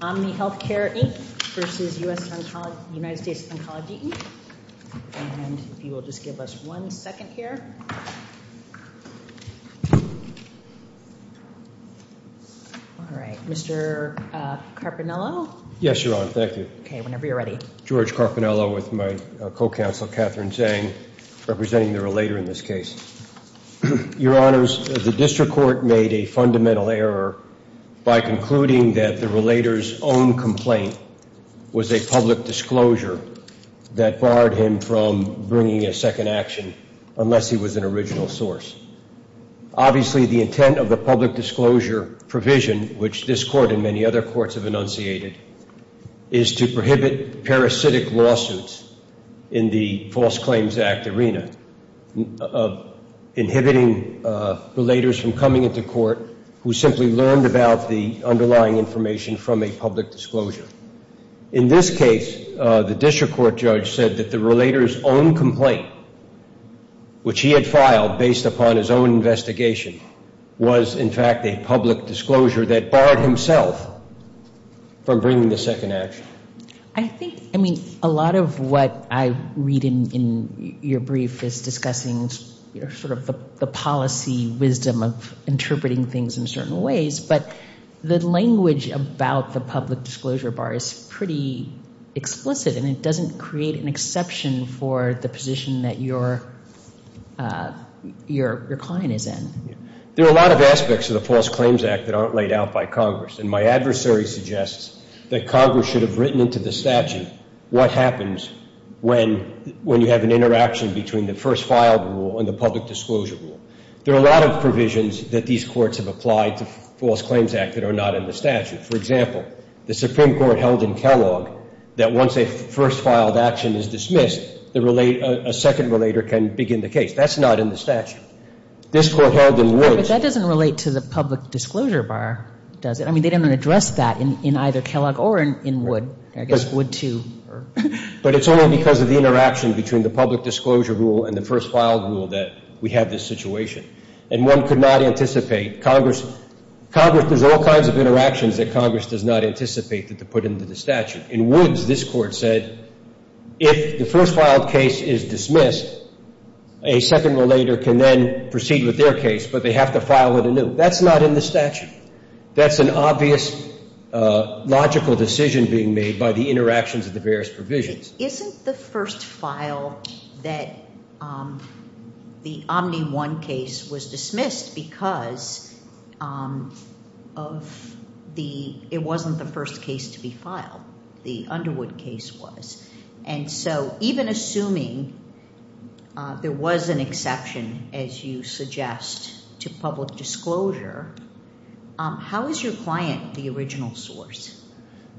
And if you will just give us one second here. All right. Mr. Carpinello? Yes, Your Honor. Thank you. Okay, whenever you're ready. George Carpinello with my co-counsel, Catherine Zhang, representing the relator in this case. Your Honors, the district court made a fundamental error by concluding that the relator's own complaint was a public disclosure that barred him from bringing a second action unless he was an original source. Obviously, the intent of the public disclosure provision, which this Court and many other courts have enunciated, is to prohibit parasitic lawsuits in the False Claims Act arena of inhibiting relators from coming into court who simply learned about the underlying information from a public disclosure. In this case, the district court judge said that the relator's own complaint, which he had filed based upon his own investigation, was in fact a public disclosure that barred himself from bringing the second action. I think, I mean, a lot of what I read in your brief is discussing sort of the policy wisdom of interpreting things in certain ways, but the language about the public disclosure bar is pretty explicit, and it doesn't create an exception for the position that your client is in. There are a lot of aspects of the False Claims Act that aren't laid out by Congress, and my adversary suggests that Congress should have written into the statute what happens when you have an interaction between the first filed rule and the public disclosure rule. There are a lot of provisions that these courts have applied to the False Claims Act that are not in the statute. For example, the Supreme Court held in Kellogg that once a first filed action is dismissed, a second relator can begin the case. That's not in the statute. This Court held in Woods. But that doesn't relate to the public disclosure bar, does it? I mean, they didn't address that in either Kellogg or in Wood. I guess Wood too. But it's only because of the interaction between the public disclosure rule and the first filed rule that we have this situation. And one could not anticipate Congress – there's all kinds of interactions that Congress does not anticipate that they put into the statute. In Woods, this Court said if the first filed case is dismissed, a second relator can then proceed with their case, but they have to file with a new. That's not in the statute. That's an obvious logical decision being made by the interactions of the various provisions. Isn't the first file that the Omni-One case was dismissed because of the – it wasn't the first case to be filed. The Underwood case was. And so even assuming there was an exception, as you suggest, to public disclosure, how is your client the original source?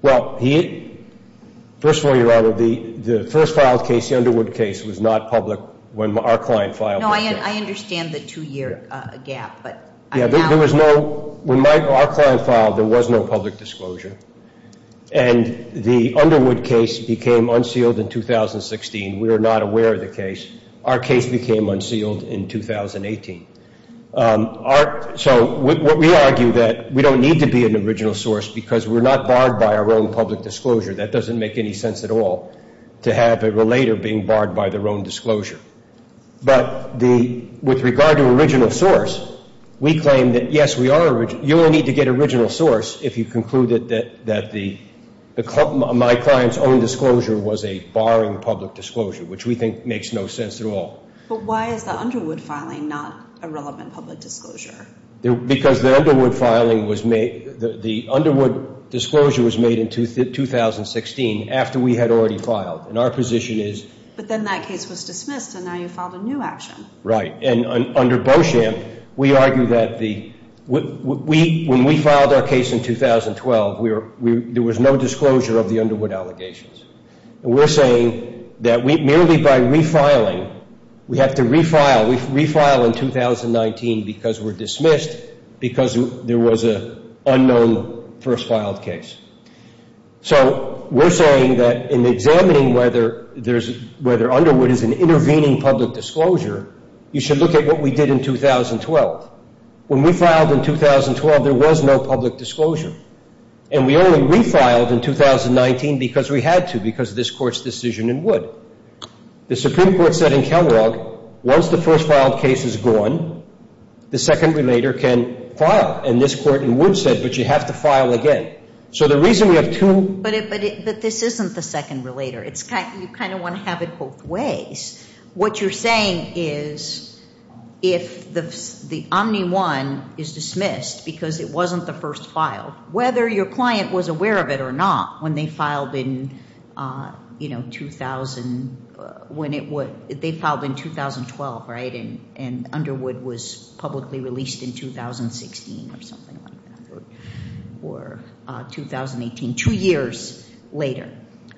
Well, he – first of all, Your Honor, the first filed case, the Underwood case, was not public when our client filed the case. No, I understand the two-year gap, but I'm asking. Yeah, there was no – when our client filed, there was no public disclosure. And the Underwood case became unsealed in 2016. We were not aware of the case. Our case became unsealed in 2018. So we argue that we don't need to be an original source because we're not barred by our own public disclosure. That doesn't make any sense at all to have a relator being barred by their own disclosure. But the – with regard to original source, we claim that, yes, we are – you will need to get original source if you conclude that the – my client's own disclosure was a barring public disclosure, which we think makes no sense at all. But why is the Underwood filing not a relevant public disclosure? Because the Underwood filing was made – the Underwood disclosure was made in 2016 after we had already filed. And our position is – But then that case was dismissed, and now you filed a new action. Right. And under Beauchamp, we argue that the – when we filed our case in 2012, we were – there was no disclosure of the Underwood allegations. And we're saying that we – merely by refiling, we have to refile. We refile in 2019 because we're dismissed because there was an unknown first-filed case. So we're saying that in examining whether there's – whether Underwood is an intervening public disclosure, you should look at what we did in 2012. When we filed in 2012, there was no public disclosure. And we only refiled in 2019 because we had to, because of this Court's decision in Wood. The Supreme Court said in Kellogg, once the first-filed case is gone, the second relator can file. And this Court in Wood said, but you have to file again. So the reason we have two – But this isn't the second relator. It's – you kind of want to have it both ways. What you're saying is if the Omni-One is dismissed because it wasn't the first file, whether your client was aware of it or not, when they filed in, you know, 2000 – when it would – they filed in 2012, right, and Underwood was publicly released in 2016 or something like that or 2018, two years later.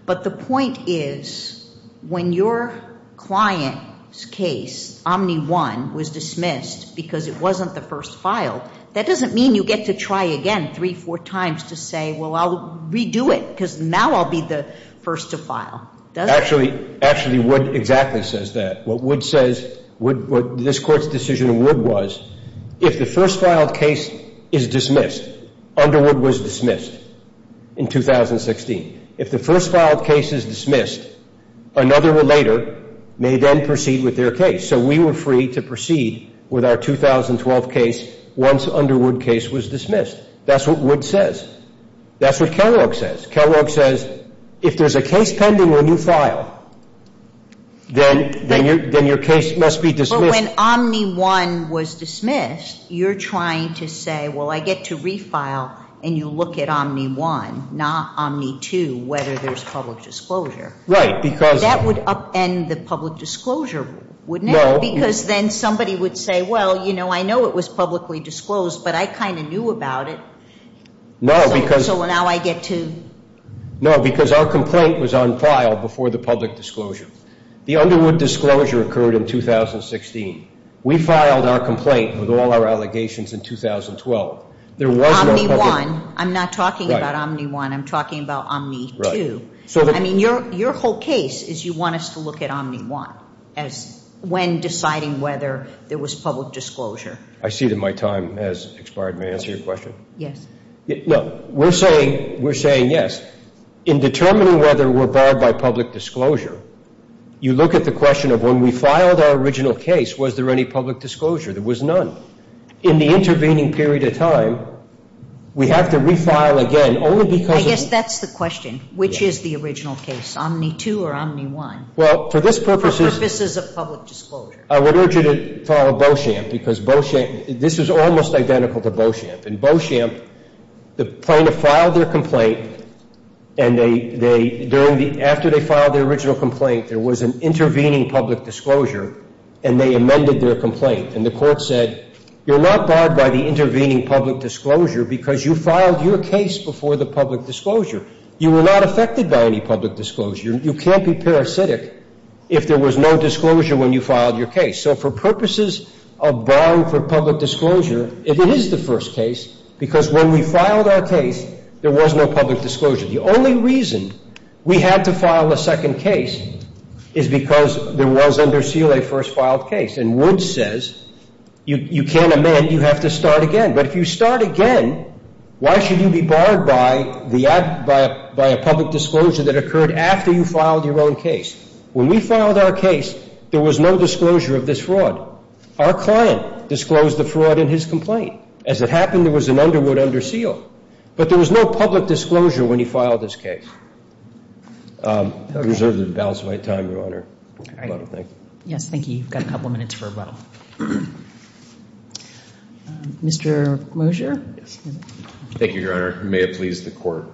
But the point is when your client's case, Omni-One, was dismissed because it wasn't the first file, that doesn't mean you get to try again three, four times to say, well, I'll redo it because now I'll be the first to file. Does it? Actually, actually, Wood exactly says that. What Wood says – what this Court's decision in Wood was, if the first-filed case is dismissed, Underwood was dismissed in 2016. If the first-filed case is dismissed, another relator may then proceed with their case. So we were free to proceed with our 2012 case once Underwood case was dismissed. That's what Wood says. That's what Kellogg says. Kellogg says if there's a case pending when you file, then your case must be dismissed. When Omni-One was dismissed, you're trying to say, well, I get to refile, and you look at Omni-One, not Omni-Two, whether there's public disclosure. Right, because – That would upend the public disclosure, wouldn't it? No. Because then somebody would say, well, you know, I know it was publicly disclosed, but I kind of knew about it. No, because – So now I get to – No, because our complaint was on file before the public disclosure. The Underwood disclosure occurred in 2016. We filed our complaint with all our allegations in 2012. There was no public – Omni-One. I'm not talking about Omni-One. I'm talking about Omni-Two. I mean, your whole case is you want us to look at Omni-One as when deciding whether there was public disclosure. I see that my time has expired. May I answer your question? Yes. No, we're saying yes. In determining whether we're barred by public disclosure, you look at the question of when we filed our original case, was there any public disclosure? There was none. In the intervening period of time, we have to refile again only because – I guess that's the question. Which is the original case, Omni-Two or Omni-One? Well, for this purpose – For purposes of public disclosure. I would urge you to follow Beauchamp because Beauchamp – this is almost identical to Beauchamp. In Beauchamp, the plaintiff filed their complaint, and they – during the – after they filed their original complaint, there was an intervening public disclosure, and they amended their complaint. And the court said, you're not barred by the intervening public disclosure because you filed your case before the public disclosure. You were not affected by any public disclosure. You can't be parasitic if there was no disclosure when you filed your case. So for purposes of barring for public disclosure, it is the first case because when we filed our case, there was no public disclosure. The only reason we had to file a second case is because there was, under Seeley, a first filed case. And Wood says, you can't amend, you have to start again. But if you start again, why should you be barred by the – by a public disclosure that occurred after you filed your own case? When we filed our case, there was no disclosure of this fraud. Our client disclosed the fraud in his complaint. As it happened, there was an underwood under Seeley. But there was no public disclosure when he filed his case. I reserve the balance of my time, Your Honor. Thank you. Yes, thank you. You've got a couple of minutes for rebuttal. Mr. Mosier? Thank you, Your Honor. May it please the Court.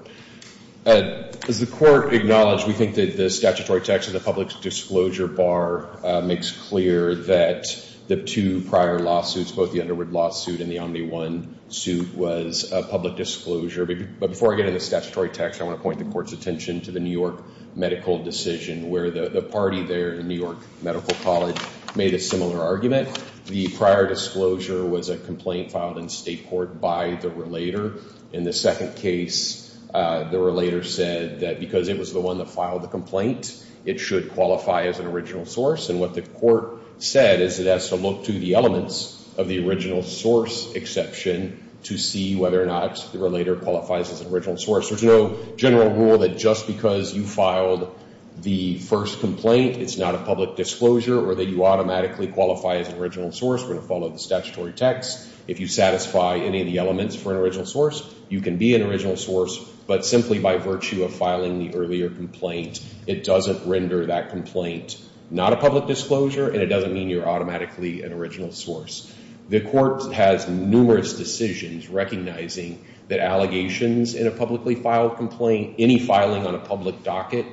As the Court acknowledged, we think that the statutory text of the public disclosure bar makes clear that the two prior lawsuits, both the underwood lawsuit and the Omni-One suit, was public disclosure. But before I get into the statutory text, I want to point the Court's attention to the New York medical decision, where the party there, the New York Medical College, made a similar argument. The prior disclosure was a complaint filed in state court by the relator. In the second case, the relator said that because it was the one that filed the complaint, it should qualify as an original source. And what the Court said is it has to look to the elements of the original source exception to see whether or not the relator qualifies as an original source. There's no general rule that just because you filed the first complaint, it's not a public disclosure, or that you automatically qualify as an original source. We're going to follow the statutory text. If you satisfy any of the elements for an original source, you can be an original source. But simply by virtue of filing the earlier complaint, it doesn't render that complaint not a public disclosure, and it doesn't mean you're automatically an original source. The Court has numerous decisions recognizing that allegations in a publicly filed complaint, any filing on a public docket,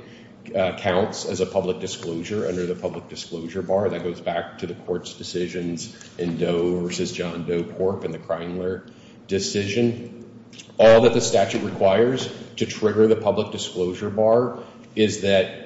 counts as a public disclosure under the public disclosure bar. That goes back to the Court's decisions in Doe v. John Doe Corp. and the Kreinler decision. All that the statute requires to trigger the public disclosure bar is that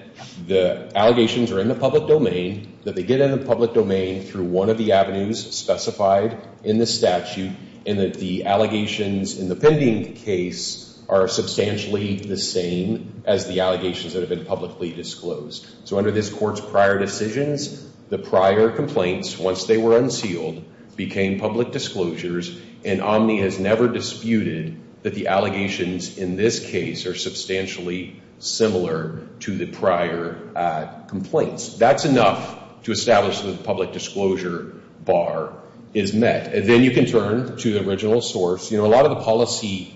the allegations are in the public domain, that they get in the public domain through one of the avenues specified in the statute, and that the allegations in the pending case are substantially the same as the allegations that have been publicly disclosed. So under this Court's prior decisions, the prior complaints, once they were unsealed, became public disclosures, and Omni has never disputed that the allegations in this case are substantially similar to the prior complaints. That's enough to establish that the public disclosure bar is met. Then you can turn to the original source. You know, a lot of the policy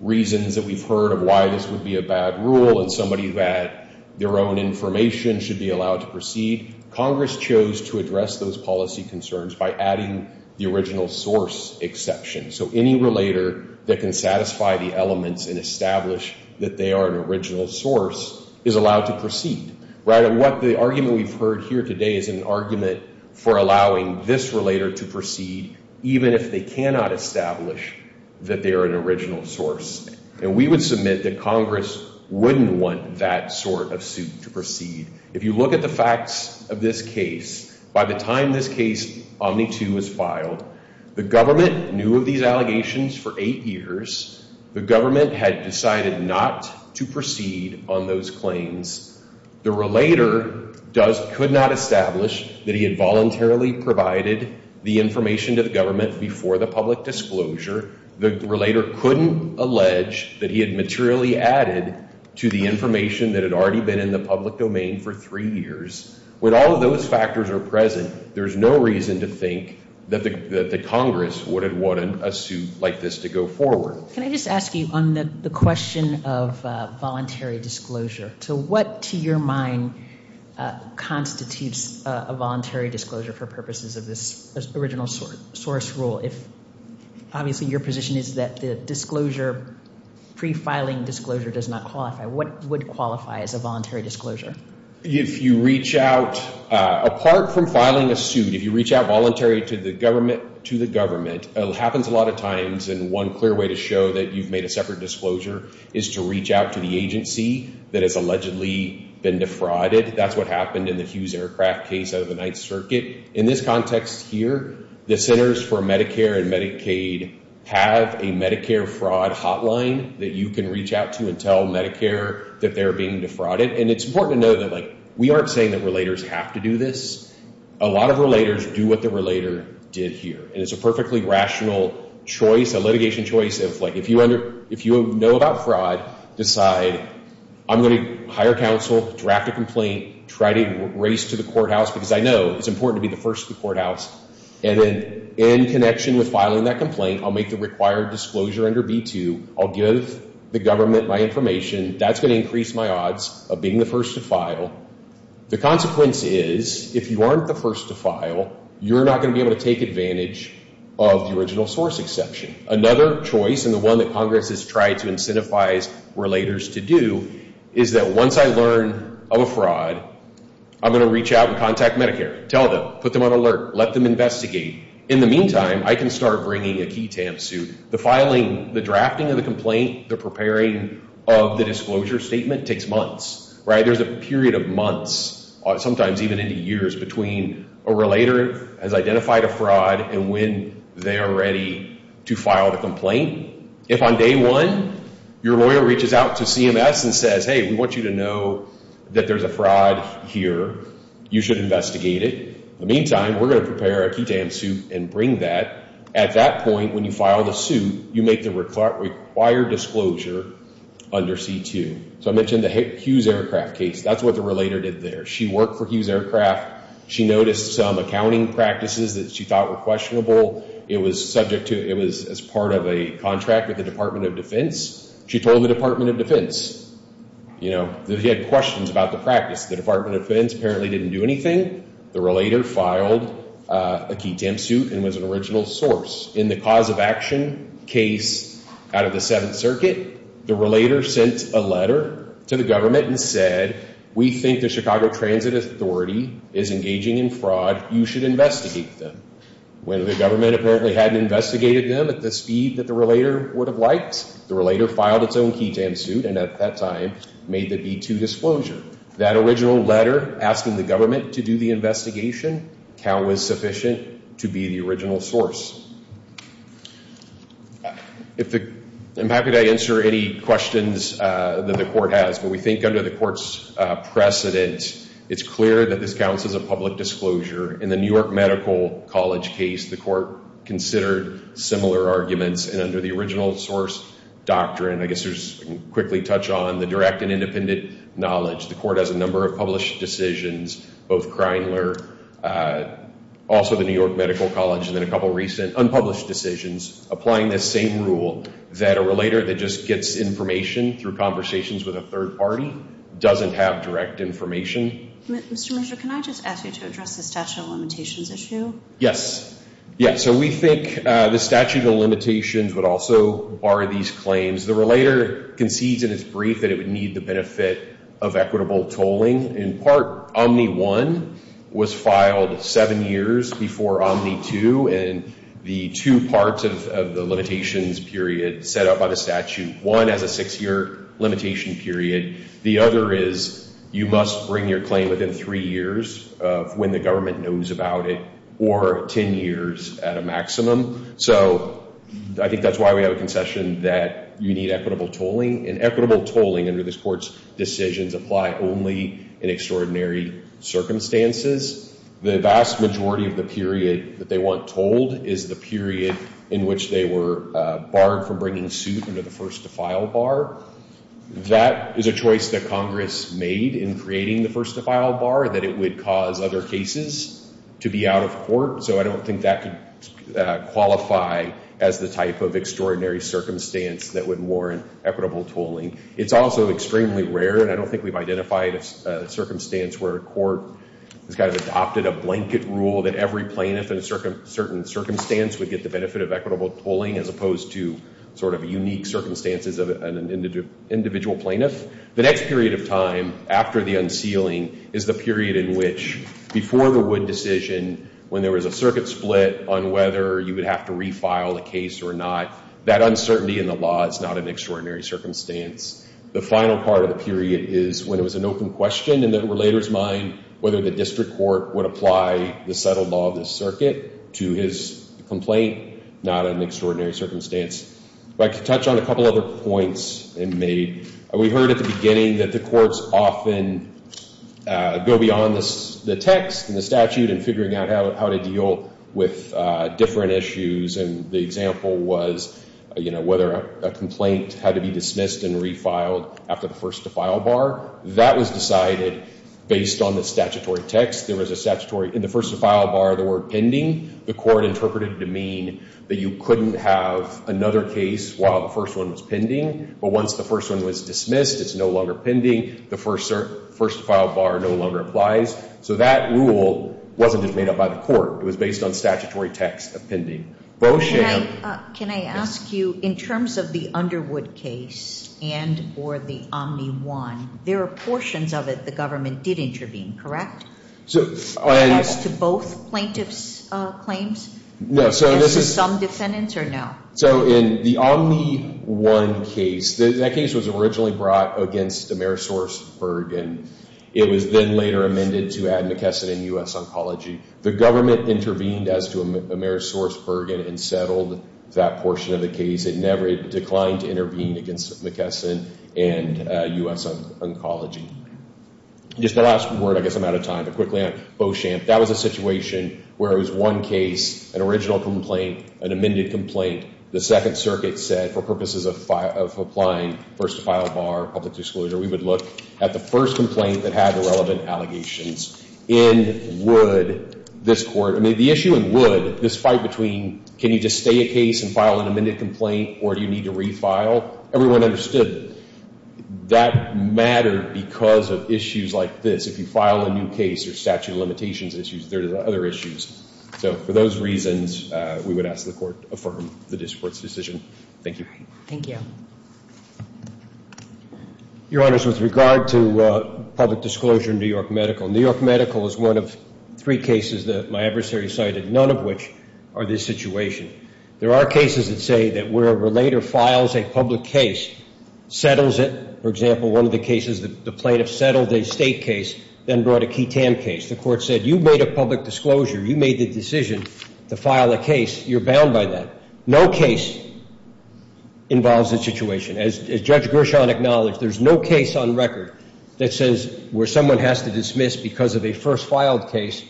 reasons that we've heard of why this would be a bad rule, and somebody who had their own information should be allowed to proceed, Congress chose to address those policy concerns by adding the original source exception. So any relator that can satisfy the elements and establish that they are an original source is allowed to proceed. What the argument we've heard here today is an argument for allowing this relator to proceed, even if they cannot establish that they are an original source. And we would submit that Congress wouldn't want that sort of suit to proceed. If you look at the facts of this case, by the time this case, Omni 2, was filed, the government knew of these allegations for eight years. The government had decided not to proceed on those claims. The relator could not establish that he had voluntarily provided the information to the government before the public disclosure. The relator couldn't allege that he had materially added to the information that had already been in the public domain for three years. When all of those factors are present, there's no reason to think that the Congress would have wanted a suit like this to go forward. Can I just ask you on the question of voluntary disclosure, to what, to your mind, constitutes a voluntary disclosure for purposes of this original source rule? Obviously, your position is that the disclosure, pre-filing disclosure, does not qualify. What would qualify as a voluntary disclosure? If you reach out, apart from filing a suit, if you reach out voluntarily to the government, it happens a lot of times, and one clear way to show that you've made a separate disclosure is to reach out to the agency that has allegedly been defrauded. That's what happened in the Hughes Aircraft case out of the Ninth Circuit. In this context here, the Centers for Medicare and Medicaid have a Medicare fraud hotline that you can reach out to and tell Medicare that they're being defrauded, and it's important to know that we aren't saying that relators have to do this. A lot of relators do what the relator did here, and it's a perfectly rational choice, a litigation choice of, like, if you know about fraud, decide, I'm going to hire counsel, draft a complaint, try to race to the courthouse, because I know it's important to be the first to the courthouse, and then in connection with filing that complaint, I'll make the required disclosure under B-2. I'll give the government my information. That's going to increase my odds of being the first to file. The consequence is if you aren't the first to file, you're not going to be able to take advantage of the original source exception. Another choice, and the one that Congress has tried to incentivize relators to do, is that once I learn of a fraud, I'm going to reach out and contact Medicare, tell them, put them on alert, let them investigate. In the meantime, I can start bringing a key tamp suit. The filing, the drafting of the complaint, the preparing of the disclosure statement takes months. There's a period of months, sometimes even into years, between a relator has identified a fraud and when they are ready to file the complaint. If on day one, your lawyer reaches out to CMS and says, hey, we want you to know that there's a fraud here, you should investigate it. In the meantime, we're going to prepare a key tamp suit and bring that. At that point, when you file the suit, you make the required disclosure under C-2. So I mentioned the Hughes Aircraft case. That's what the relator did there. She worked for Hughes Aircraft. She noticed some accounting practices that she thought were questionable. It was as part of a contract with the Department of Defense. She told the Department of Defense that she had questions about the practice. The Department of Defense apparently didn't do anything. The relator filed a key tamp suit and was an original source. In the cause of action case out of the Seventh Circuit, the relator sent a letter to the government and said, we think the Chicago Transit Authority is engaging in fraud. You should investigate them. When the government apparently hadn't investigated them at the speed that the relator would have liked, the relator filed its own key tamp suit and at that time made the B-2 disclosure. That original letter asking the government to do the investigation was sufficient to be the original source. I'm happy to answer any questions that the court has, but we think under the court's precedent, it's clear that this counts as a public disclosure. In the New York Medical College case, the court considered similar arguments. Under the original source doctrine, I guess we can quickly touch on the direct and independent knowledge. The court has a number of published decisions, both Kreinler, also the New York Medical College, and then a couple of recent unpublished decisions, applying this same rule that a relator that just gets information through conversations with a third party doesn't have direct information. Mr. Merger, can I just ask you to address the statute of limitations issue? Yes. Yeah, so we think the statute of limitations would also bar these claims. The relator concedes in its brief that it would need the benefit of equitable tolling. In part, Omni I was filed seven years before Omni II, and the two parts of the limitations period set up by the statute, one has a six-year limitation period. The other is you must bring your claim within three years of when the government knows about it, or ten years at a maximum. So I think that's why we have a concession that you need equitable tolling, and equitable tolling under this court's decisions apply only in extraordinary circumstances. The vast majority of the period that they want tolled is the period in which they were barred from bringing suit under the first-to-file bar. That is a choice that Congress made in creating the first-to-file bar, that it would cause other cases to be out of court, so I don't think that could qualify as the type of extraordinary circumstance that would warrant equitable tolling. It's also extremely rare, and I don't think we've identified a circumstance where a court has kind of adopted a blanket rule that every plaintiff in a certain circumstance would get the benefit of equitable tolling as opposed to sort of unique circumstances of an individual plaintiff. The next period of time after the unsealing is the period in which before the Wood decision, when there was a circuit split on whether you would have to refile the case or not, that uncertainty in the law is not an extraordinary circumstance. The final part of the period is when it was an open question in the relator's mind whether the district court would apply the settled law of the circuit to his complaint, not an extraordinary circumstance. I'd like to touch on a couple other points. We heard at the beginning that the courts often go beyond the text and the statute in figuring out how to deal with different issues, and the example was, you know, whether a complaint had to be dismissed and refiled after the first-to-file bar. That was decided based on the statutory text. There was a statutory in the first-to-file bar the word pending. The court interpreted it to mean that you couldn't have another case while the first one was pending, but once the first one was dismissed, it's no longer pending. The first-to-file bar no longer applies. So that rule wasn't just made up by the court. It was based on statutory text of pending. Can I ask you, in terms of the Underwood case and or the Omni-1, there are portions of it the government did intervene, correct? As to both plaintiff's claims? No. As to some defendants or no? So in the Omni-1 case, that case was originally brought against Amerisourceburg, and it was then later amended to Admikeson and U.S. Oncology. The government intervened as to Amerisourceburg and unsettled that portion of the case. It never declined to intervene against Admikeson and U.S. Oncology. Just the last word, I guess I'm out of time, but quickly on Beauchamp. That was a situation where it was one case, an original complaint, an amended complaint. The Second Circuit said for purposes of applying first-to-file bar, public disclosure, we would look at the first complaint that had the relevant allegations. In Wood, this Court, I mean, the issue in Wood, this fight between can you just stay a case and file an amended complaint, or do you need to refile? Everyone understood that mattered because of issues like this. If you file a new case, there's statute of limitations issues. There are other issues. So for those reasons, we would ask the Court to affirm the district court's decision. Thank you. Thank you. Your Honors, with regard to public disclosure in New York Medical, New York Medical is one of three cases that my adversary cited, none of which are this situation. There are cases that say that where a relator files a public case, settles it. For example, one of the cases, the plaintiff settled a state case, then brought a ketamine case. The Court said you made a public disclosure. You made the decision to file a case. You're bound by that. No case involves a situation. As Judge Gershon acknowledged, there's no case on record that says where someone has to dismiss because of a first filed case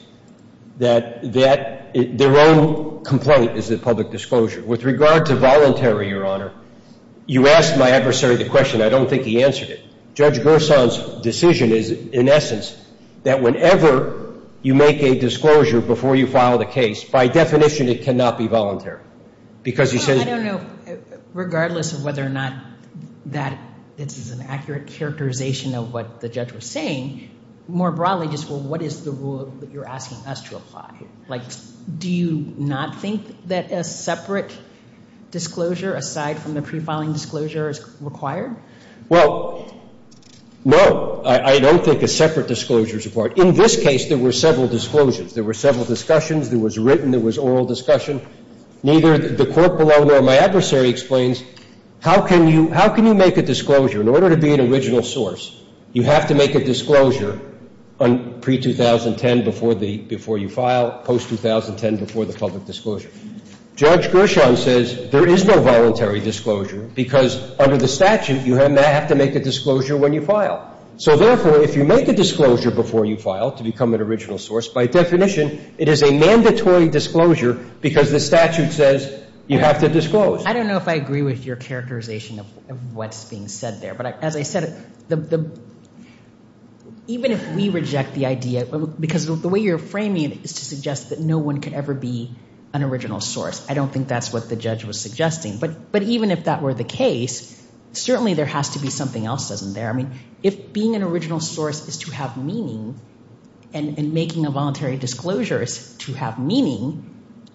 that their own complaint is a public disclosure. With regard to voluntary, Your Honor, you asked my adversary the question. I don't think he answered it. Judge Gershon's decision is, in essence, that whenever you make a disclosure before you file the case, by definition, it cannot be voluntary. I don't know, regardless of whether or not that is an accurate characterization of what the judge was saying, more broadly, just what is the rule that you're asking us to apply? Like, do you not think that a separate disclosure, aside from the pre-filing disclosure, is required? Well, no. I don't think a separate disclosure is required. In this case, there were several disclosures. There were several discussions. There was written. There was oral discussion. Neither the court below nor my adversary explains, how can you make a disclosure? In order to be an original source, you have to make a disclosure pre-2010 before you file, post-2010 before the public disclosure. Judge Gershon says there is no voluntary disclosure because, under the statute, you have to make a disclosure when you file. So, therefore, if you make a disclosure before you file to become an original source, by definition, it is a mandatory disclosure because the statute says you have to disclose. I don't know if I agree with your characterization of what's being said there. But as I said, even if we reject the idea, because the way you're framing it is to suggest that no one could ever be an original source. I don't think that's what the judge was suggesting. But even if that were the case, certainly there has to be something else, doesn't there? I mean, if being an original source is to have meaning and making a voluntary disclosure is to have meaning,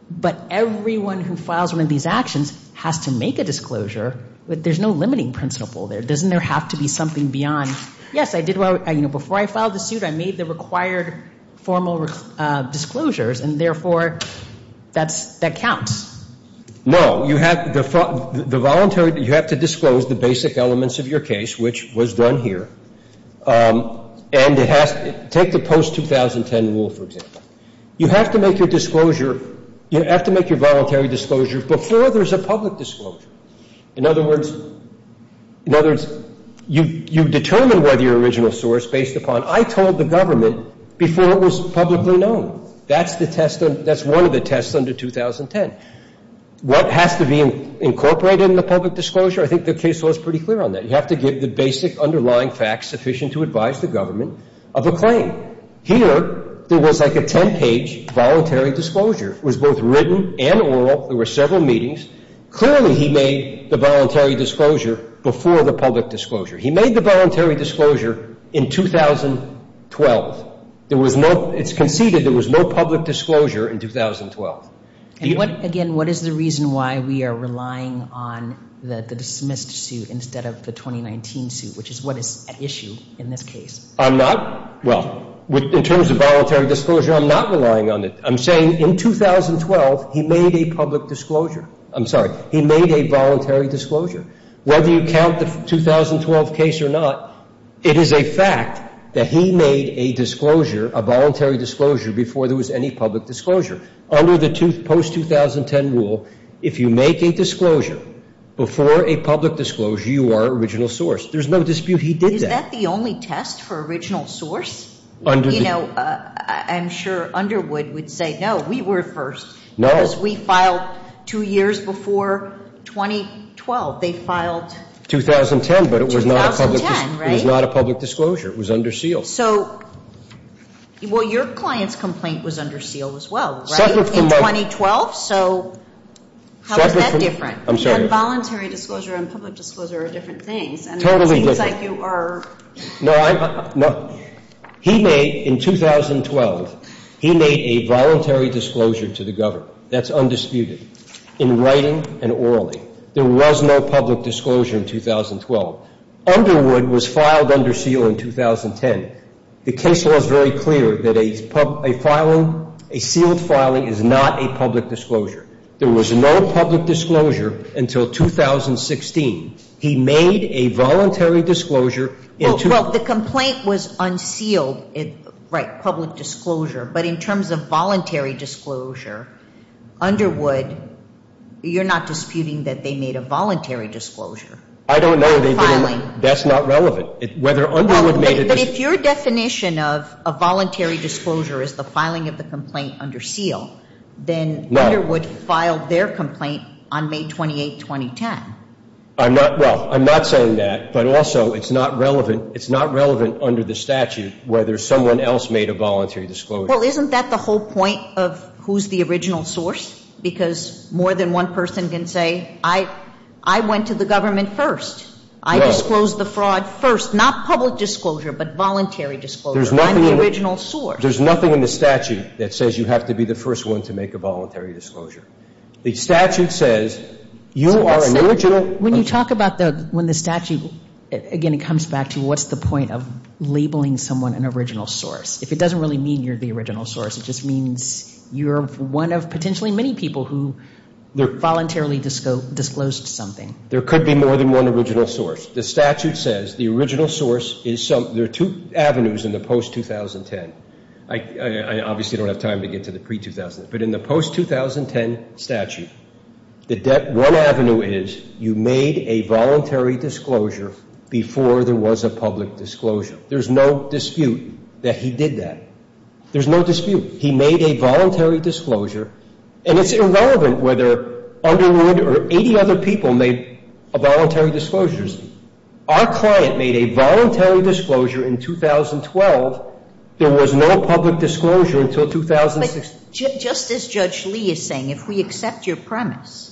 but everyone who files one of these actions has to make a disclosure, there's no limiting principle there. Doesn't there have to be something beyond, yes, I did well, you know, before I filed the suit, I made the required formal disclosures, and, therefore, that counts. No. You have the voluntary, you have to disclose the basic elements of your case, which was done here. And it has to, take the post-2010 rule, for example. You have to make your disclosure, you have to make your voluntary disclosure before there's a public disclosure. In other words, in other words, you determine whether you're original source based upon, I told the government before it was publicly known. That's the test, that's one of the tests under 2010. What has to be incorporated in the public disclosure? I think the case law is pretty clear on that. You have to give the basic underlying facts sufficient to advise the government of a claim. Here, there was like a 10-page voluntary disclosure. It was both written and oral. There were several meetings. Clearly, he made the voluntary disclosure before the public disclosure. He made the voluntary disclosure in 2012. There was no, it's conceded there was no public disclosure in 2012. And what, again, what is the reason why we are relying on the dismissed suit instead of the 2019 suit, which is what is at issue in this case? I'm not, well, in terms of voluntary disclosure, I'm not relying on it. I'm saying in 2012, he made a public disclosure. I'm sorry, he made a voluntary disclosure. Whether you count the 2012 case or not, it is a fact that he made a disclosure, a voluntary disclosure before there was any public disclosure. Under the post-2010 rule, if you make a disclosure before a public disclosure, you are original source. There's no dispute he did that. Is that the only test for original source? You know, I'm sure Underwood would say, no, we were first. No. Because we filed two years before 2012. They filed 2010, but it was not a public disclosure. 2010, right. It was not a public disclosure. It was under seal. So, well, your client's complaint was under seal as well, right? In 2012? So how is that different? I'm sorry. On voluntary disclosure and public disclosure are different things. Totally different. And it seems like you are. No, I'm not. He made, in 2012, he made a voluntary disclosure to the government. That's undisputed. In writing and orally. There was no public disclosure in 2012. Underwood was filed under seal in 2010. The case law is very clear that a sealed filing is not a public disclosure. There was no public disclosure until 2016. He made a voluntary disclosure. Well, the complaint was unsealed, right, public disclosure. But in terms of voluntary disclosure, Underwood, you're not disputing that they made a voluntary disclosure? I don't know. That's not relevant. But if your definition of a voluntary disclosure is the filing of the complaint under seal, then Underwood filed their complaint on May 28, 2010. Well, I'm not saying that. But also, it's not relevant under the statute whether someone else made a voluntary disclosure. Well, isn't that the whole point of who's the original source? Because more than one person can say, I went to the government first. I disclosed the fraud first. Not public disclosure, but voluntary disclosure. I'm the original source. There's nothing in the statute that says you have to be the first one to make a voluntary disclosure. The statute says you are an original source. When you talk about the statute, again, it comes back to what's the point of labeling someone an original source. If it doesn't really mean you're the original source, it just means you're one of potentially many people who voluntarily disclosed something. There could be more than one original source. The statute says the original source is something. There are two avenues in the post-2010. I obviously don't have time to get to the pre-2010. But in the post-2010 statute, the one avenue is you made a voluntary disclosure before there was a public disclosure. There's no dispute that he did that. There's no dispute. He made a voluntary disclosure. And it's irrelevant whether Underwood or 80 other people made voluntary disclosures. Our client made a voluntary disclosure in 2012. There was no public disclosure until 2016. But just as Judge Lee is saying, if we accept your premise,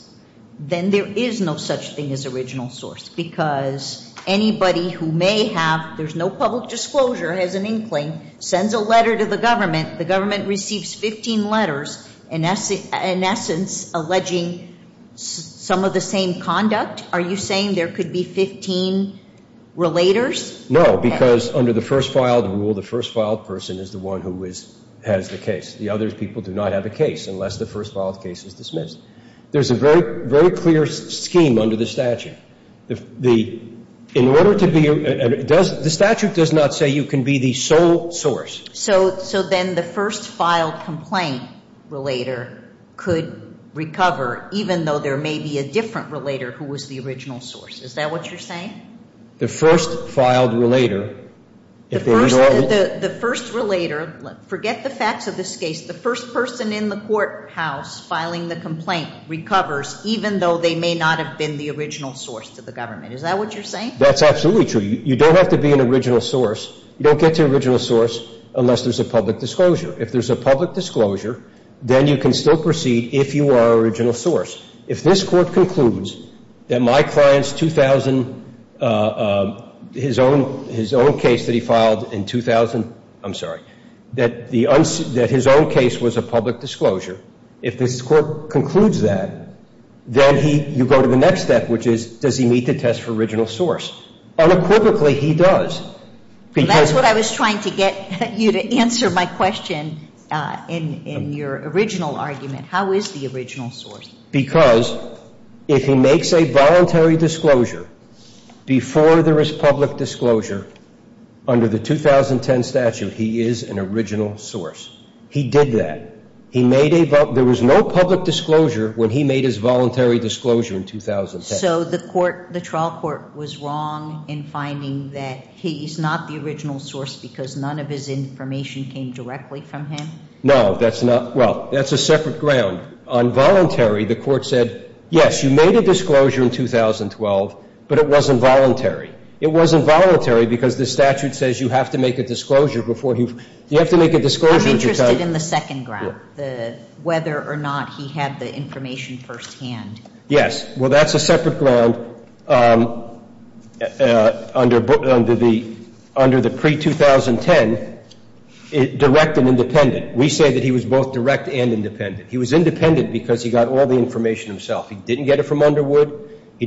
then there is no such thing as original source, because anybody who may have no public disclosure has an inkling, sends a letter to the government, the government receives 15 letters, in essence, alleging some of the same conduct. Are you saying there could be 15 relators? No, because under the first filed rule, the first filed person is the one who has the case. The other people do not have a case unless the first filed case is dismissed. There's a very clear scheme under the statute. The statute does not say you can be the sole source. So then the first filed complaint relator could recover, even though there may be a different relator who was the original source. Is that what you're saying? The first filed relator, if there is a rule. The first relator, forget the facts of this case, the first person in the courthouse filing the complaint recovers, even though they may not have been the original source to the government. Is that what you're saying? That's absolutely true. You don't have to be an original source. You don't get to original source unless there's a public disclosure. If there's a public disclosure, then you can still proceed if you are original source. If this Court concludes that my client's 2000, his own case that he filed in 2000, I'm sorry, that his own case was a public disclosure, if this Court concludes that, then you go to the next step, which is, does he meet the test for original source? Unequivocally, he does. That's what I was trying to get you to answer my question in your original argument. How is the original source? Because if he makes a voluntary disclosure before there is public disclosure under the 2010 statute, he is an original source. He did that. He made a, there was no public disclosure when he made his voluntary disclosure in 2010. So the court, the trial court was wrong in finding that he's not the original source because none of his information came directly from him? No, that's not, well, that's a separate ground. On voluntary, the Court said, yes, you made a disclosure in 2012, but it wasn't voluntary. It wasn't voluntary because the statute says you have to make a disclosure before you, you have to make a disclosure. I'm interested in the second ground, whether or not he had the information firsthand. Yes. Well, that's a separate ground under the pre-2010 direct and independent. We say that he was both direct and independent. He was independent because he got all the information himself. He didn't get it from Underwood. He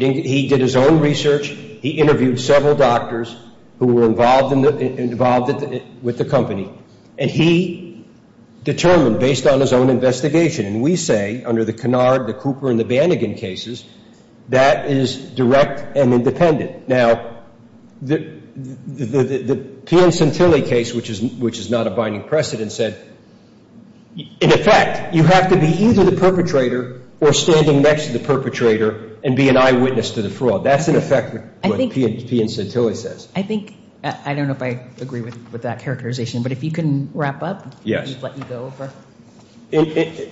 did his own research. He interviewed several doctors who were involved with the company. And he determined, based on his own investigation, and we say under the Kennard, the Cooper, and the Banigan cases, that is direct and independent. Now, the P. N. Santilli case, which is not a binding precedent, said, in effect, you have to be either the perpetrator or standing next to the perpetrator and be an eyewitness to the fraud. That's, in effect, what P. N. Santilli says. I think, I don't know if I agree with that characterization, but if you can wrap up. Yes. I'm going to let you go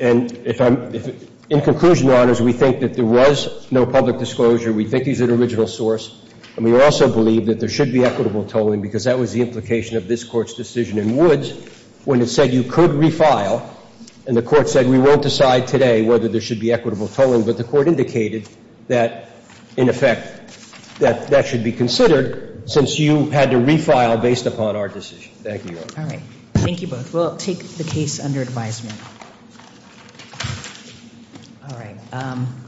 over. In conclusion, Your Honors, we think that there was no public disclosure. We think he's an original source. And we also believe that there should be equitable tolling because that was the implication of this Court's decision in Woods when it said you could refile. And the Court said, we won't decide today whether there should be equitable tolling. But the Court indicated that, in effect, that that should be considered since you had to refile based upon our decision. Thank you, Your Honors. All right. Thank you both. We'll take the case under advisement.